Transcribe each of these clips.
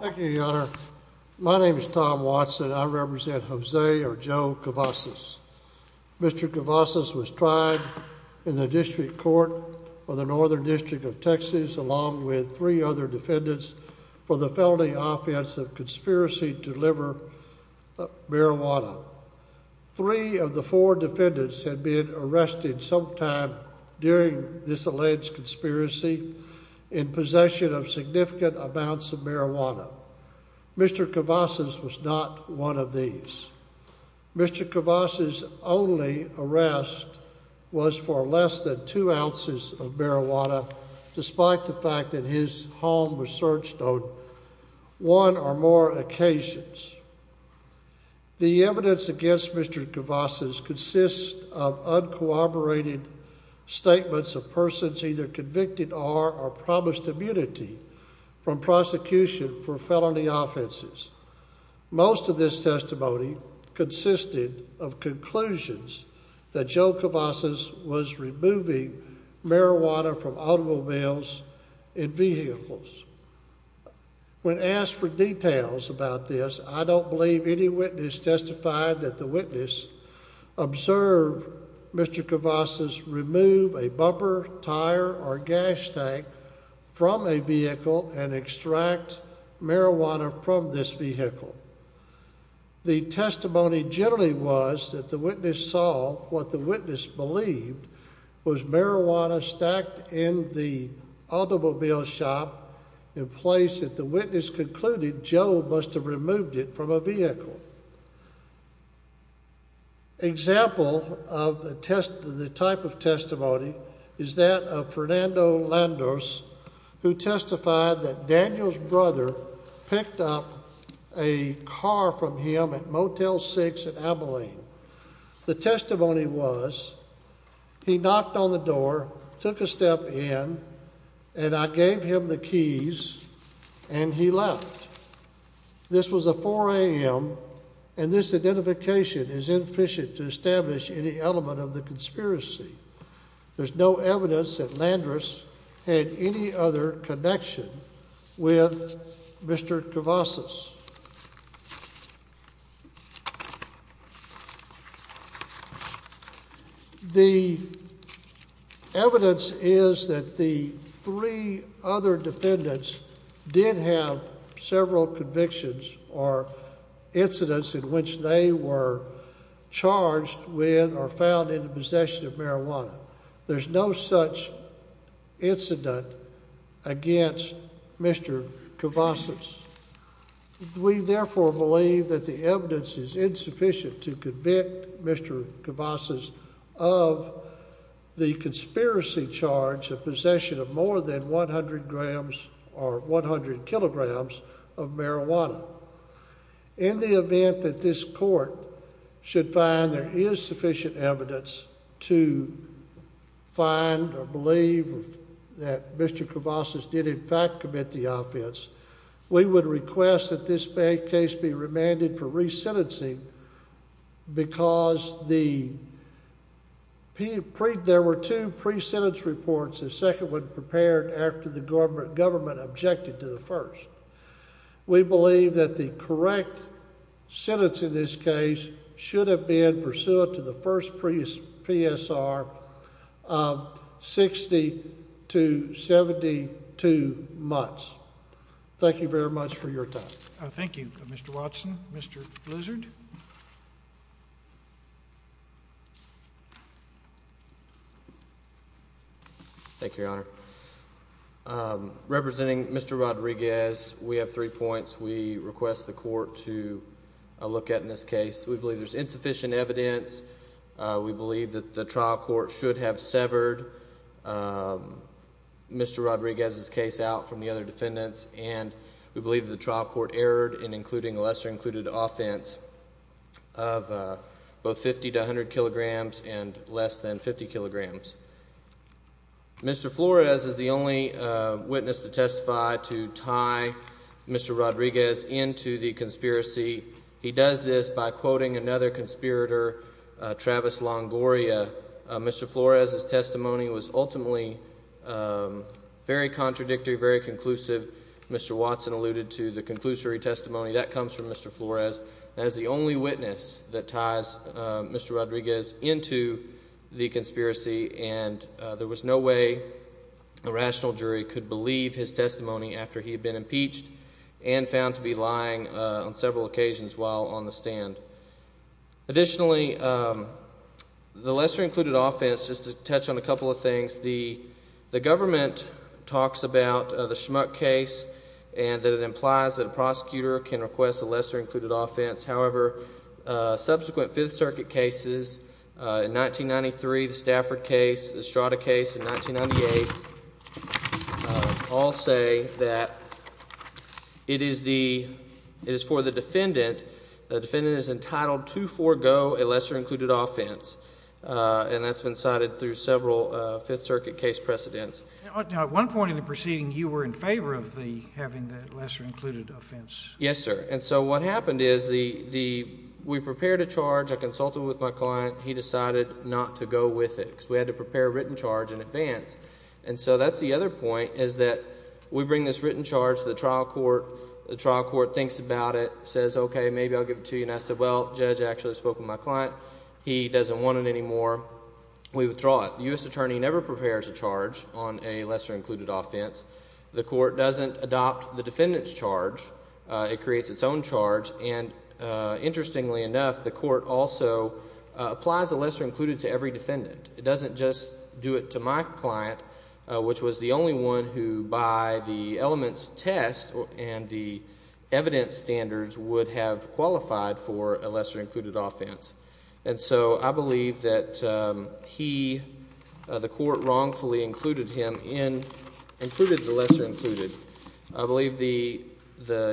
Thank you, Your Honor. My name is Tom Watson. I represent Jose or Joe Cavazos. Mr. Cavazos was tried in the District Court for the Northern District of Texas along with three other defendants for the felony offense of conspiracy to deliver marijuana. Three of the four defendants had been arrested sometime during this alleged conspiracy in possession of significant amounts of marijuana. Mr. Cavazos was not one of these. Mr. Cavazos' only arrest was for less than two ounces of marijuana despite the fact that his home was searched on one or more occasions. The evidence against Mr. Cavazos consists of corroborated statements of persons either convicted or are promised immunity from prosecution for felony offenses. Most of this testimony consisted of conclusions that Joe Cavazos was removing marijuana from automobiles and vehicles. When asked for details about this, I don't believe any Mr. Cavazos remove a bumper, tire, or gas tank from a vehicle and extract marijuana from this vehicle. The testimony generally was that the witness saw what the witness believed was marijuana stacked in the automobile shop in place that the witness concluded Joe must have removed it from a vehicle. Example of the type of testimony is that of Fernando Landos who testified that Daniel's brother picked up a car from him at Motel 6 in Abilene. The testimony was he knocked on the door, took a step in, and I gave him the keys and he left. This was a 4 a.m. and this identification is inefficient to establish any element of the conspiracy. There's no evidence that Landros had any other connection with Mr. Cavazos. The evidence is that the three other defendants did have several convictions or incidents in which they were charged with or found in the possession of marijuana. There's no such incident against Mr. Cavazos. We therefore believe that the evidence is insufficient to convict Mr. Cavazos of the conspiracy charge of possession of more than 100 grams or 100 kilograms of marijuana. In the event that this court should find there is sufficient evidence to find or believe that Mr. Cavazos did in fact commit the offense, we would request that this case be remanded for re-sentencing because there were two pre-sentence reports, the second one prepared after the government objected to the first. We believe that the correct sentence in this case should have been pursuant to the first PSR of 60 to 72 months. Thank you very much for your time. Thank you, Mr. Watson. Mr. Blizzard. Thank you, Your Honor. Representing Mr. Rodriguez, we have three points we request the court to look at in this case. We believe there's insufficient evidence. We believe that the trial court should have severed Mr. Rodriguez's case out from the other defendants and we believe the trial court erred in including a lesser-included offense. Of both 50 to 100 kilograms and less than 50 kilograms. Mr. Flores is the only witness to testify to tie Mr. Rodriguez into the conspiracy. He does this by quoting another conspirator, Travis Longoria. Mr. Flores's testimony was ultimately very contradictory, very conclusive. Mr. Watson alluded to the conclusory testimony that comes from Mr. Flores. That is the only witness that ties Mr. Rodriguez into the conspiracy and there was no way a rational jury could believe his testimony after he had been impeached and found to be lying on several occasions while on the stand. Additionally, the lesser-included offense, just to touch on a couple of things, the government talks about the Schmuck case and that it implies that a prosecutor can request a lesser-included offense, however, subsequent Fifth Circuit cases, in 1993, the Stafford case, the Estrada case in 1998, all say that it is for the defendant. The defendant is entitled to forego a lesser-included offense and that's been cited through several Fifth Circuit case precedents. Now, at one point in the proceeding, you were in favor of having the lesser-included offense. Yes, sir. And so what happened is we prepared a charge. I consulted with my client. He decided not to go with it because we had to prepare a written charge in advance. And so that's the other point is that we bring this written charge to the trial court. The trial court thinks about it, says, okay, maybe I'll give it to you. And I said, well, the judge actually spoke with my client. He doesn't want it anymore. We withdraw it. The U.S. attorney never prepares a charge on a lesser-included offense. The court doesn't adopt the defendant's charge. It creates its own charge. And interestingly enough, the court also applies a lesser-included to every defendant. It doesn't just do it to my client, which was the only one who by the elements test and the evidence standards would have qualified for a lesser-included offense. And so I believe that he, the court wrongfully included him in, included the lesser-included. I believe the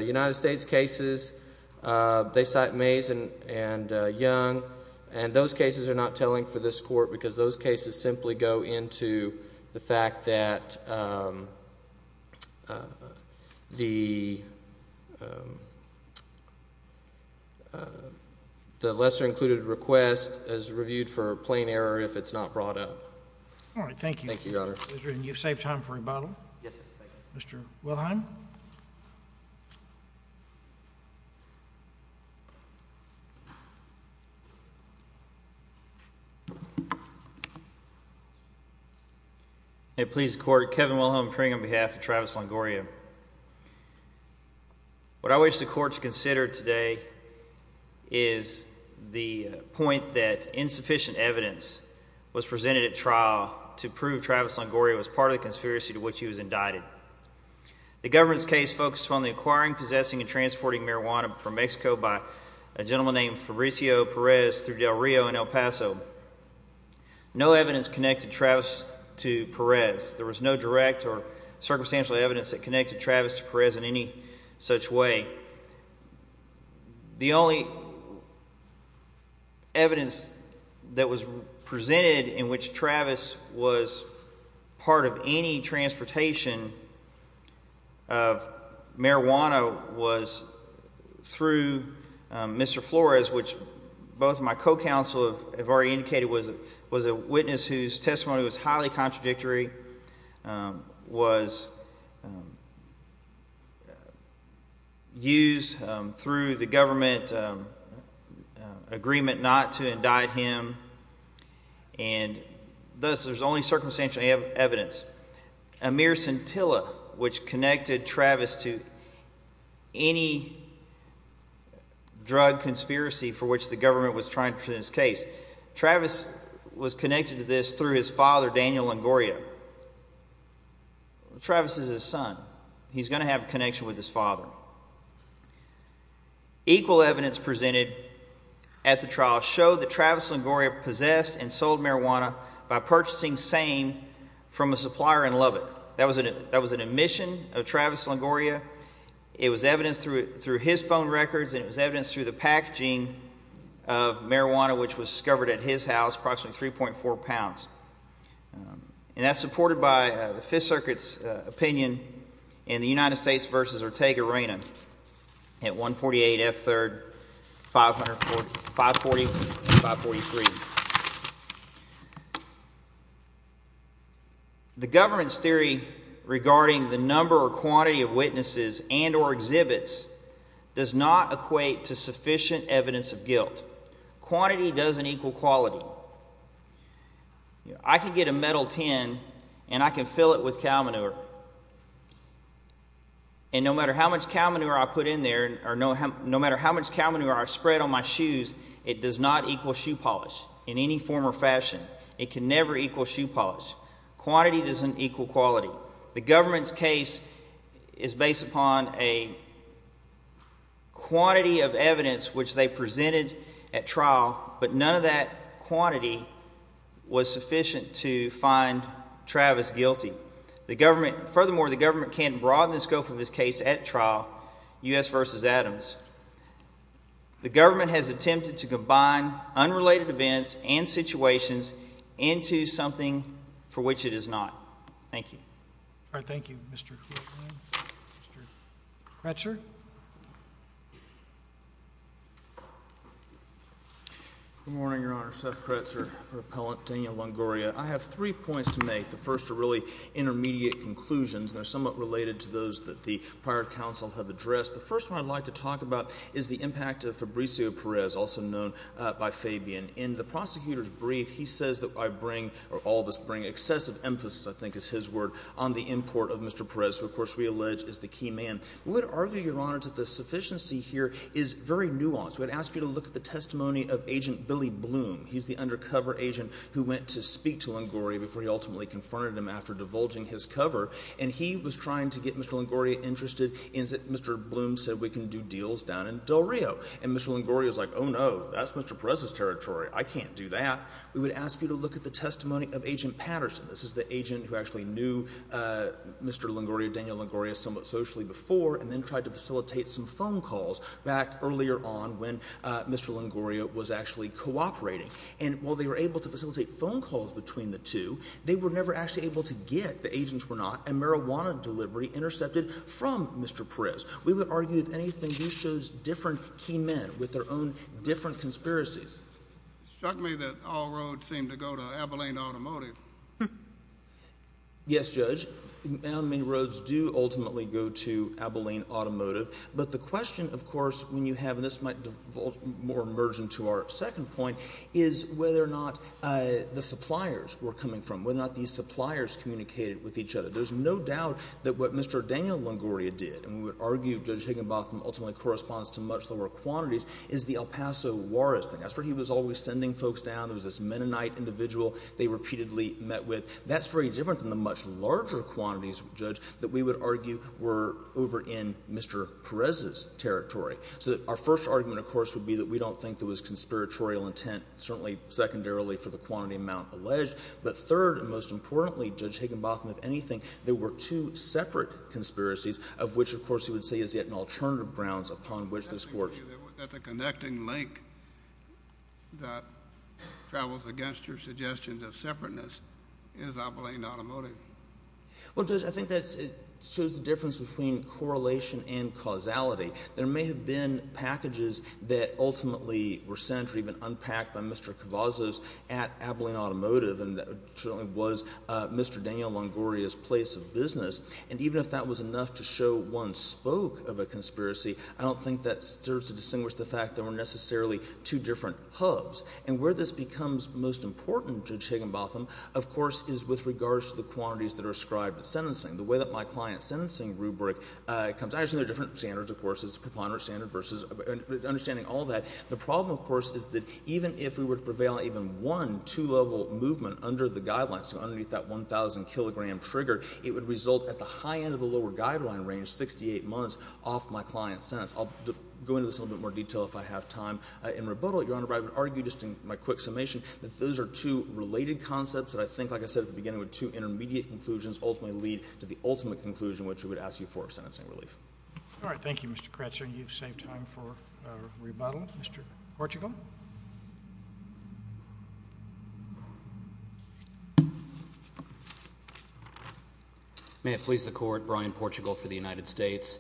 United States cases, they cite Mays and Young. And those cases are not telling for this court because those cases simply go into the fact that the lesser-included request is reviewed for plain error if it's not brought up. All right. Thank you. Thank you, Your Honor. Mr. Lindgren, you've saved time for rebuttal. Yes, sir. Thank you. Mr. Wilhelm. May it please the Court, Kevin Wilhelm Pring on behalf of Travis Longoria. What I wish the Court to consider today is the point that insufficient evidence was presented at trial to prove Travis Longoria was part of the conspiracy to which he was indicted. The government's case focused on the acquiring, possessing, and transporting marijuana from Mexico by a gentleman named Fabricio Perez through Del Rio and El Paso. No evidence connected Travis to Perez. There was no direct or circumstantial evidence that connected Travis to Perez in any such way. The only evidence that was presented in which Travis was part of any transportation of marijuana was through Mr. Flores, which both my co-counsel have already indicated was a witness whose testimony was highly contradictory. It was used through the government agreement not to indict him, and thus there's only circumstantial evidence. A mere scintilla, which connected Travis to any drug conspiracy for which the government was trying to present his case. Travis was connected to this through his father, Daniel Longoria. Travis is his son. He's going to have a connection with his father. Equal evidence presented at the trial showed that Travis Longoria possessed and sold marijuana by purchasing same from a supplier in Lubbock. That was an admission of Travis Longoria. It was evidence through his phone records, and it was evidence through the packaging of marijuana, which was discovered at his house, approximately 3.4 pounds. And that's supported by the Fifth Circuit's opinion in the United States v. Ortega-Reyna at 148 F. 3rd, 540 and 543. The government's theory regarding the number or quantity of witnesses and or exhibits does not equate to sufficient evidence of guilt. Quantity doesn't equal quality. I can get a metal tin and I can fill it with cow manure, and no matter how much cow manure I put in there or no matter how much cow manure I spread on my shoes, it does not equal shoe polish in any form or fashion. It can never equal shoe polish. Quantity doesn't equal quality. The government's case is based upon a quantity of evidence which they presented at trial, but none of that quantity was sufficient to find Travis guilty. Furthermore, the government can't broaden the scope of his case at trial, U.S. v. Adams. The government has attempted to combine unrelated events and situations into something for which it is not. Thank you. All right, thank you, Mr. Horton. Mr. Kretzer? Good morning, Your Honor. Seth Kretzer for Appellant Daniel Longoria. I have three points to make. The first are really intermediate conclusions, and they're somewhat related to those that the prior counsel have addressed. The first one I'd like to talk about is the impact of Fabrizio Perez, also known by Fabian. In the prosecutor's brief, he says that I bring or all of us bring excessive emphasis, I think is his word, on the import of Mr. Perez, who, of course, we allege is the key man. We would argue, Your Honor, that the sufficiency here is very nuanced. We would ask you to look at the testimony of Agent Billy Bloom. He's the undercover agent who went to speak to Longoria before he ultimately confronted him after divulging his cover. And he was trying to get Mr. Longoria interested in that Mr. Bloom said we can do deals down in Del Rio. And Mr. Longoria is like, oh, no, that's Mr. Perez's territory. I can't do that. We would ask you to look at the testimony of Agent Patterson. This is the agent who actually knew Mr. Longoria, Daniel Longoria, somewhat socially before, and then tried to facilitate some phone calls back earlier on when Mr. Longoria was actually cooperating. And while they were able to facilitate phone calls between the two, they were never actually able to get, the agents were not, a marijuana delivery intercepted from Mr. Perez. We would argue, if anything, he shows different key men with their own different conspiracies. It struck me that all roads seem to go to Abilene Automotive. Yes, Judge. Many roads do ultimately go to Abilene Automotive. But the question, of course, when you have, and this might more merge into our second point, is whether or not the suppliers were coming from, whether or not these suppliers communicated with each other. There's no doubt that what Mr. Daniel Longoria did, and we would argue Judge Higginbotham ultimately corresponds to much lower quantities, is the El Paso Juarez thing. That's where he was always sending folks down. There was this Mennonite individual they repeatedly met with. That's very different than the much larger quantities, Judge, that we would argue were over in Mr. Perez's territory. So our first argument, of course, would be that we don't think there was conspiratorial intent, certainly secondarily for the quantity amount alleged. But third and most importantly, Judge Higginbotham, if anything, there were two separate conspiracies, of which, of course, you would say is yet an alternative grounds upon which this Court— —that the connecting link that travels against your suggestions of separateness is Abilene Automotive. Well, Judge, I think that shows the difference between correlation and causality. There may have been packages that ultimately were sent or even unpacked by Mr. Cavazos at Abilene Automotive, and that certainly was Mr. Daniel Longoria's place of business. And even if that was enough to show one spoke of a conspiracy, I don't think that serves to distinguish the fact there were necessarily two different hubs. And where this becomes most important, Judge Higginbotham, of course, is with regards to the quantities that are ascribed to sentencing. The way that my client's sentencing rubric comes—actually, there are different standards, of course. It's a preponderant standard versus—understanding all that. The problem, of course, is that even if we were to prevail on even one two-level movement under the guidelines, so underneath that 1,000-kilogram trigger, it would result at the high end of the lower guideline range, 68 months, off my client's sentence. I'll go into this in a little bit more detail if I have time. In rebuttal, Your Honor, I would argue, just in my quick summation, that those are two related concepts that I think, like I said at the beginning, were two intermediate conclusions, ultimately lead to the ultimate conclusion, which we would ask you for a sentencing relief. All right. Thank you, Mr. Crutcher. You've saved time for rebuttal. Mr. Portugal. May it please the Court, Brian Portugal for the United States.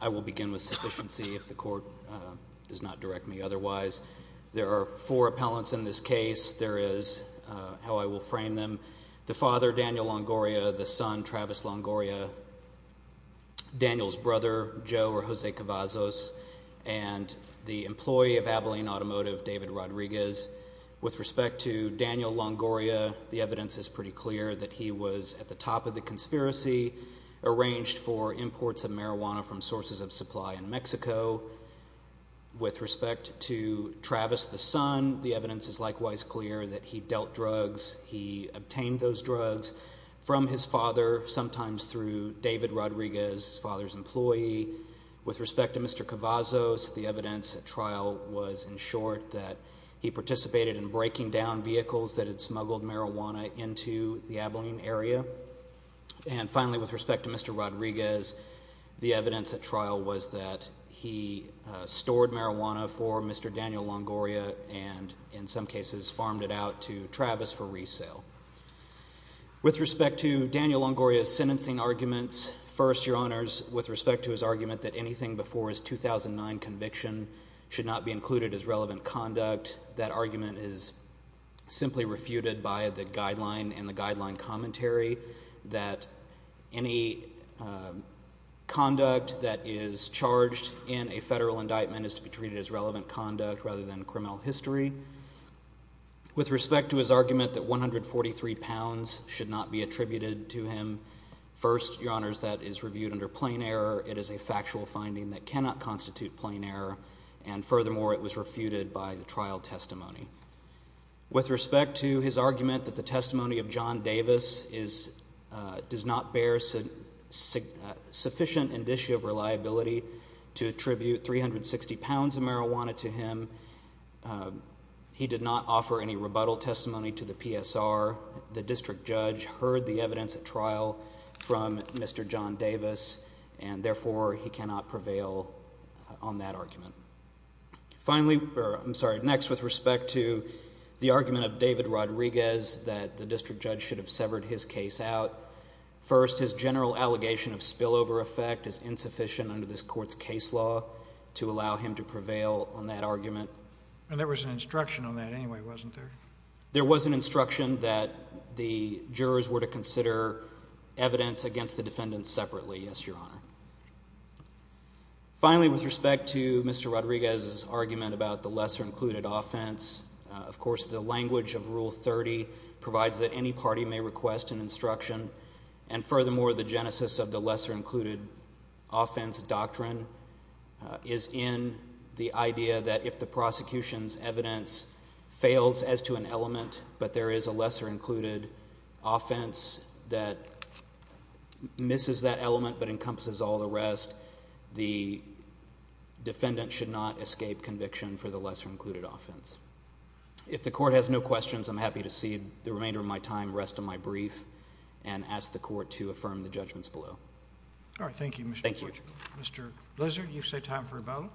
I will begin with sufficiency if the Court does not direct me otherwise. There are four appellants in this case. There is how I will frame them. The father, Daniel Longoria, the son, Travis Longoria, Daniel's brother, Joe or Jose Cavazos, and the employee of Abilene Automotive, David Rodriguez. With respect to Daniel Longoria, the evidence is pretty clear that he was at the top of the conspiracy, arranged for imports of marijuana from sources of supply in Mexico. With respect to Travis, the son, the evidence is likewise clear that he dealt drugs. He obtained those drugs from his father, sometimes through David Rodriguez, his father's employee. With respect to Mr. Cavazos, the evidence at trial was, in short, that he participated in breaking down vehicles that had smuggled marijuana into the Abilene area. And finally, with respect to Mr. Rodriguez, the evidence at trial was that he stored marijuana for Mr. Daniel Longoria and, in some cases, farmed it out to Travis for resale. With respect to Daniel Longoria's sentencing arguments, first, Your Honors, with respect to his argument that anything before his 2009 conviction should not be included as relevant conduct, that argument is simply refuted by the guideline and the guideline commentary that any conduct that is charged in a federal indictment is to be treated as relevant conduct rather than criminal history. With respect to his argument that 143 pounds should not be attributed to him, first, Your Honors, that is reviewed under plain error. It is a factual finding that cannot constitute plain error, and furthermore, it was refuted by the trial testimony. With respect to his argument that the testimony of John Davis does not bear sufficient indicia of reliability to attribute 360 pounds of marijuana to him, he did not offer any rebuttal testimony to the PSR. The district judge heard the evidence at trial from Mr. John Davis, and therefore, he cannot prevail on that argument. Finally, or I'm sorry, next, with respect to the argument of David Rodriguez that the district judge should have severed his case out, first, his general allegation of spillover effect is insufficient under this Court's case law to allow him to prevail on that argument. And there was an instruction on that anyway, wasn't there? There was an instruction that the jurors were to consider evidence against the defendant separately, yes, Your Honor. Finally, with respect to Mr. Rodriguez's argument about the lesser-included offense, of course, the language of Rule 30 provides that any party may request an instruction. And furthermore, the genesis of the lesser-included offense doctrine is in the idea that if the prosecution's evidence fails as to an element but there is a lesser-included offense that misses that element but encompasses all the rest, the defendant should not escape conviction for the lesser-included offense. If the Court has no questions, I'm happy to see the remainder of my time rest on my brief and ask the Court to affirm the judgments below. All right. Thank you, Mr. Blitch. Thank you. Mr. Blizzard, you've set time for rebuttal.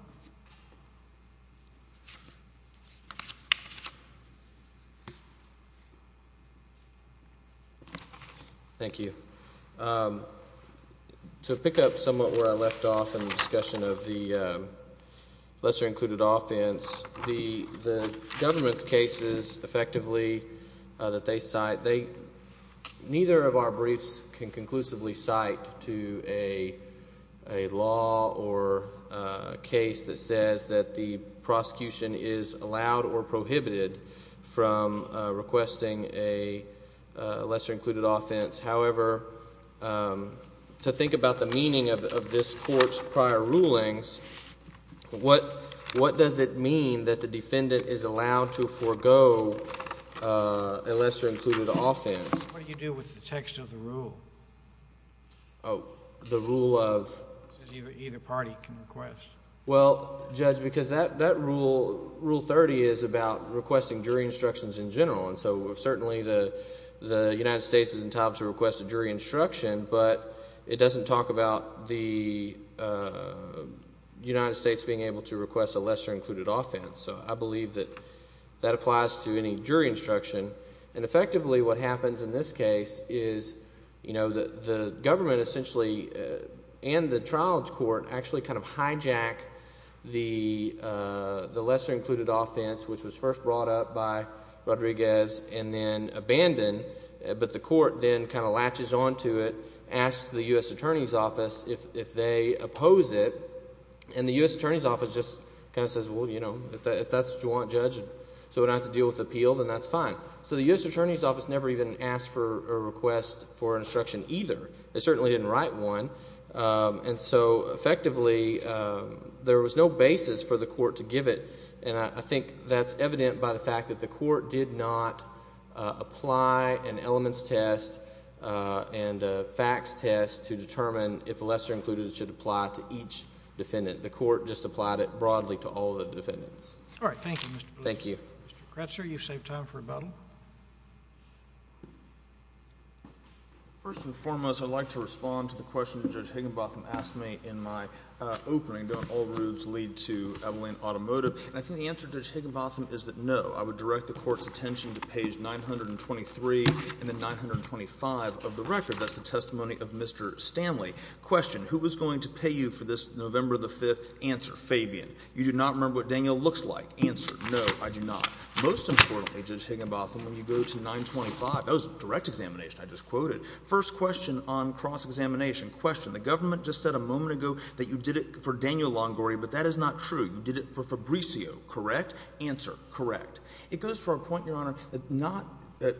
Thank you. To pick up somewhat where I left off in the discussion of the lesser-included offense, the government's cases effectively that they cite, they – neither of our briefs can conclusively cite to a law or a case that says that the prosecution is allowed or prohibited from requesting a lesser-included offense. However, to think about the meaning of this Court's prior rulings, what does it mean that the defendant is allowed to forego a lesser-included offense? What do you do with the text of the rule? Oh, the rule of? Either party can request. Well, Judge, because that rule, Rule 30, is about requesting jury instructions in general. And so certainly the United States is entitled to request a jury instruction, but it doesn't talk about the United States being able to request a lesser-included offense. So I believe that that applies to any jury instruction. And effectively what happens in this case is the government essentially and the trial court actually kind of hijack the lesser-included offense, which was first brought up by Rodriguez and then abandoned. But the court then kind of latches onto it, asks the U.S. Attorney's Office if they oppose it, and the U.S. Attorney's Office just kind of says, well, if that's what you want, Judge, so we don't have to deal with the appeal, then that's fine. So the U.S. Attorney's Office never even asked for a request for an instruction either. They certainly didn't write one. And so effectively there was no basis for the court to give it. And I think that's evident by the fact that the court did not apply an elements test and a facts test to determine if a lesser-included should apply to each defendant. The court just applied it broadly to all the defendants. All right. Thank you, Mr. Blumenthal. Thank you. Mr. Crutcher, you've saved time for rebuttal. First and foremost, I'd like to respond to the question Judge Higginbotham asked me in my opening, don't all rooves lead to Evelyn Automotive? And I think the answer, Judge Higginbotham, is that no. I would direct the court's attention to page 923 and then 925 of the record. That's the testimony of Mr. Stanley. Question, who was going to pay you for this November the 5th? Answer, Fabian. You do not remember what Daniel looks like. Answer, no, I do not. Most importantly, Judge Higginbotham, when you go to 925, that was a direct examination I just quoted. First question on cross-examination. Question, the government just said a moment ago that you did it for Daniel Longori, but that is not true. You did it for Fabricio. Correct? Answer, correct. It goes to our point, Your Honor, that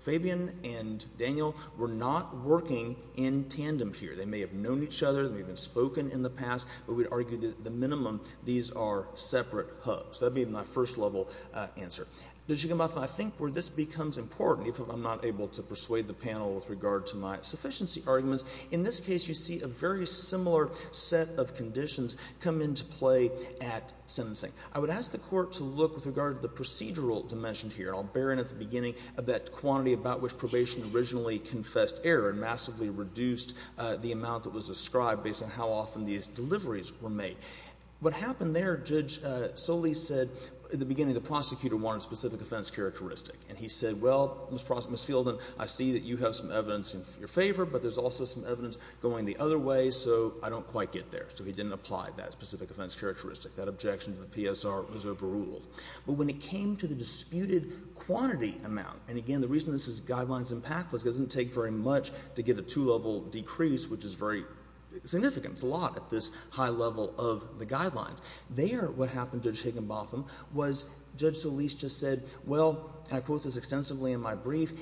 Fabian and Daniel were not working in tandem here. They may have known each other. They may have spoken in the past. But we'd argue that at the minimum, these are separate hubs. That would be my first-level answer. Judge Higginbotham, I think where this becomes important, even if I'm not able to persuade the panel with regard to my sufficiency arguments, in this case you see a very similar set of conditions come into play at sentencing. I would ask the court to look with regard to the procedural dimension here. I'll bear in at the beginning of that quantity about which probation originally confessed error and massively reduced the amount that was ascribed based on how often these deliveries were made. What happened there, Judge Solis said at the beginning the prosecutor wanted specific offense characteristic. And he said, well, Ms. Fielden, I see that you have some evidence in your favor, but there's also some evidence going the other way, so I don't quite get there. So he didn't apply that specific offense characteristic. That objection to the PSR was overruled. But when it came to the disputed quantity amount, and, again, the reason this guideline is impactless, it doesn't take very much to get a two-level decrease, which is very significant. It's a lot at this high level of the guidelines. There what happened, Judge Higginbotham, was Judge Solis just said, well, and I quote this extensively in my brief,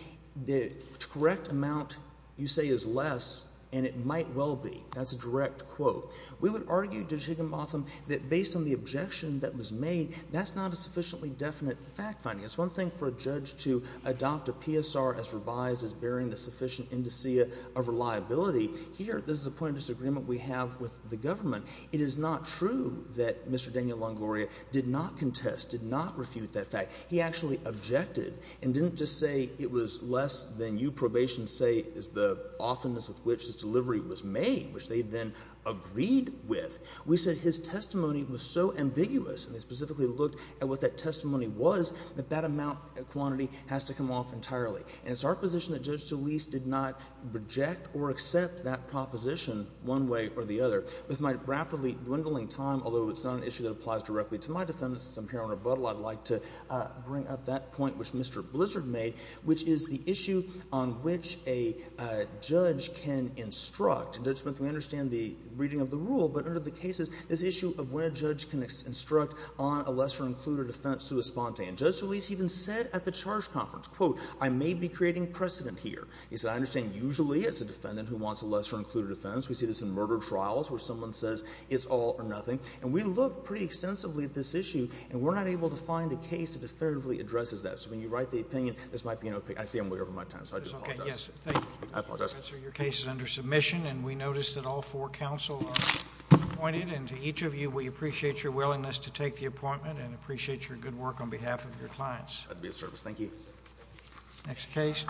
the correct amount you say is less, and it might well be. That's a direct quote. We would argue, Judge Higginbotham, that based on the objection that was made, that's not a sufficiently definite fact finding. It's one thing for a judge to adopt a PSR as revised as bearing the sufficient indicia of reliability. Here, this is a point of disagreement we have with the government. It is not true that Mr. Daniel Longoria did not contest, did not refute that fact. He actually objected and didn't just say it was less than you probation say is the oftenness with which this delivery was made, which they then agreed with. We said his testimony was so ambiguous, and they specifically looked at what that testimony was, that that amount quantity has to come off entirely. And it's our position that Judge Solis did not reject or accept that proposition one way or the other. With my rapidly dwindling time, although it's not an issue that applies directly to my defense, since I'm here on rebuttal, I'd like to bring up that point which Mr. Blizzard made, which is the issue on which a judge can instruct. And, Judge Smith, we understand the reading of the rule, but under the cases, this issue of where a judge can instruct on a lesser-included offense sui sponte. And Judge Solis even said at the charge conference, quote, I may be creating precedent here. He said, I understand usually it's a defendant who wants a lesser-included offense. We see this in murder trials where someone says it's all or nothing. And we look pretty extensively at this issue, and we're not able to find a case that definitively addresses that. So when you write the opinion, this might be an opinion. Actually, I'm way over my time, so I do apologize. I apologize. Your case is under submission, and we notice that all four counsel are appointed. And to each of you, we appreciate your willingness to take the appointment and appreciate your good work on behalf of your clients. That would be a service. Thank you. Next case.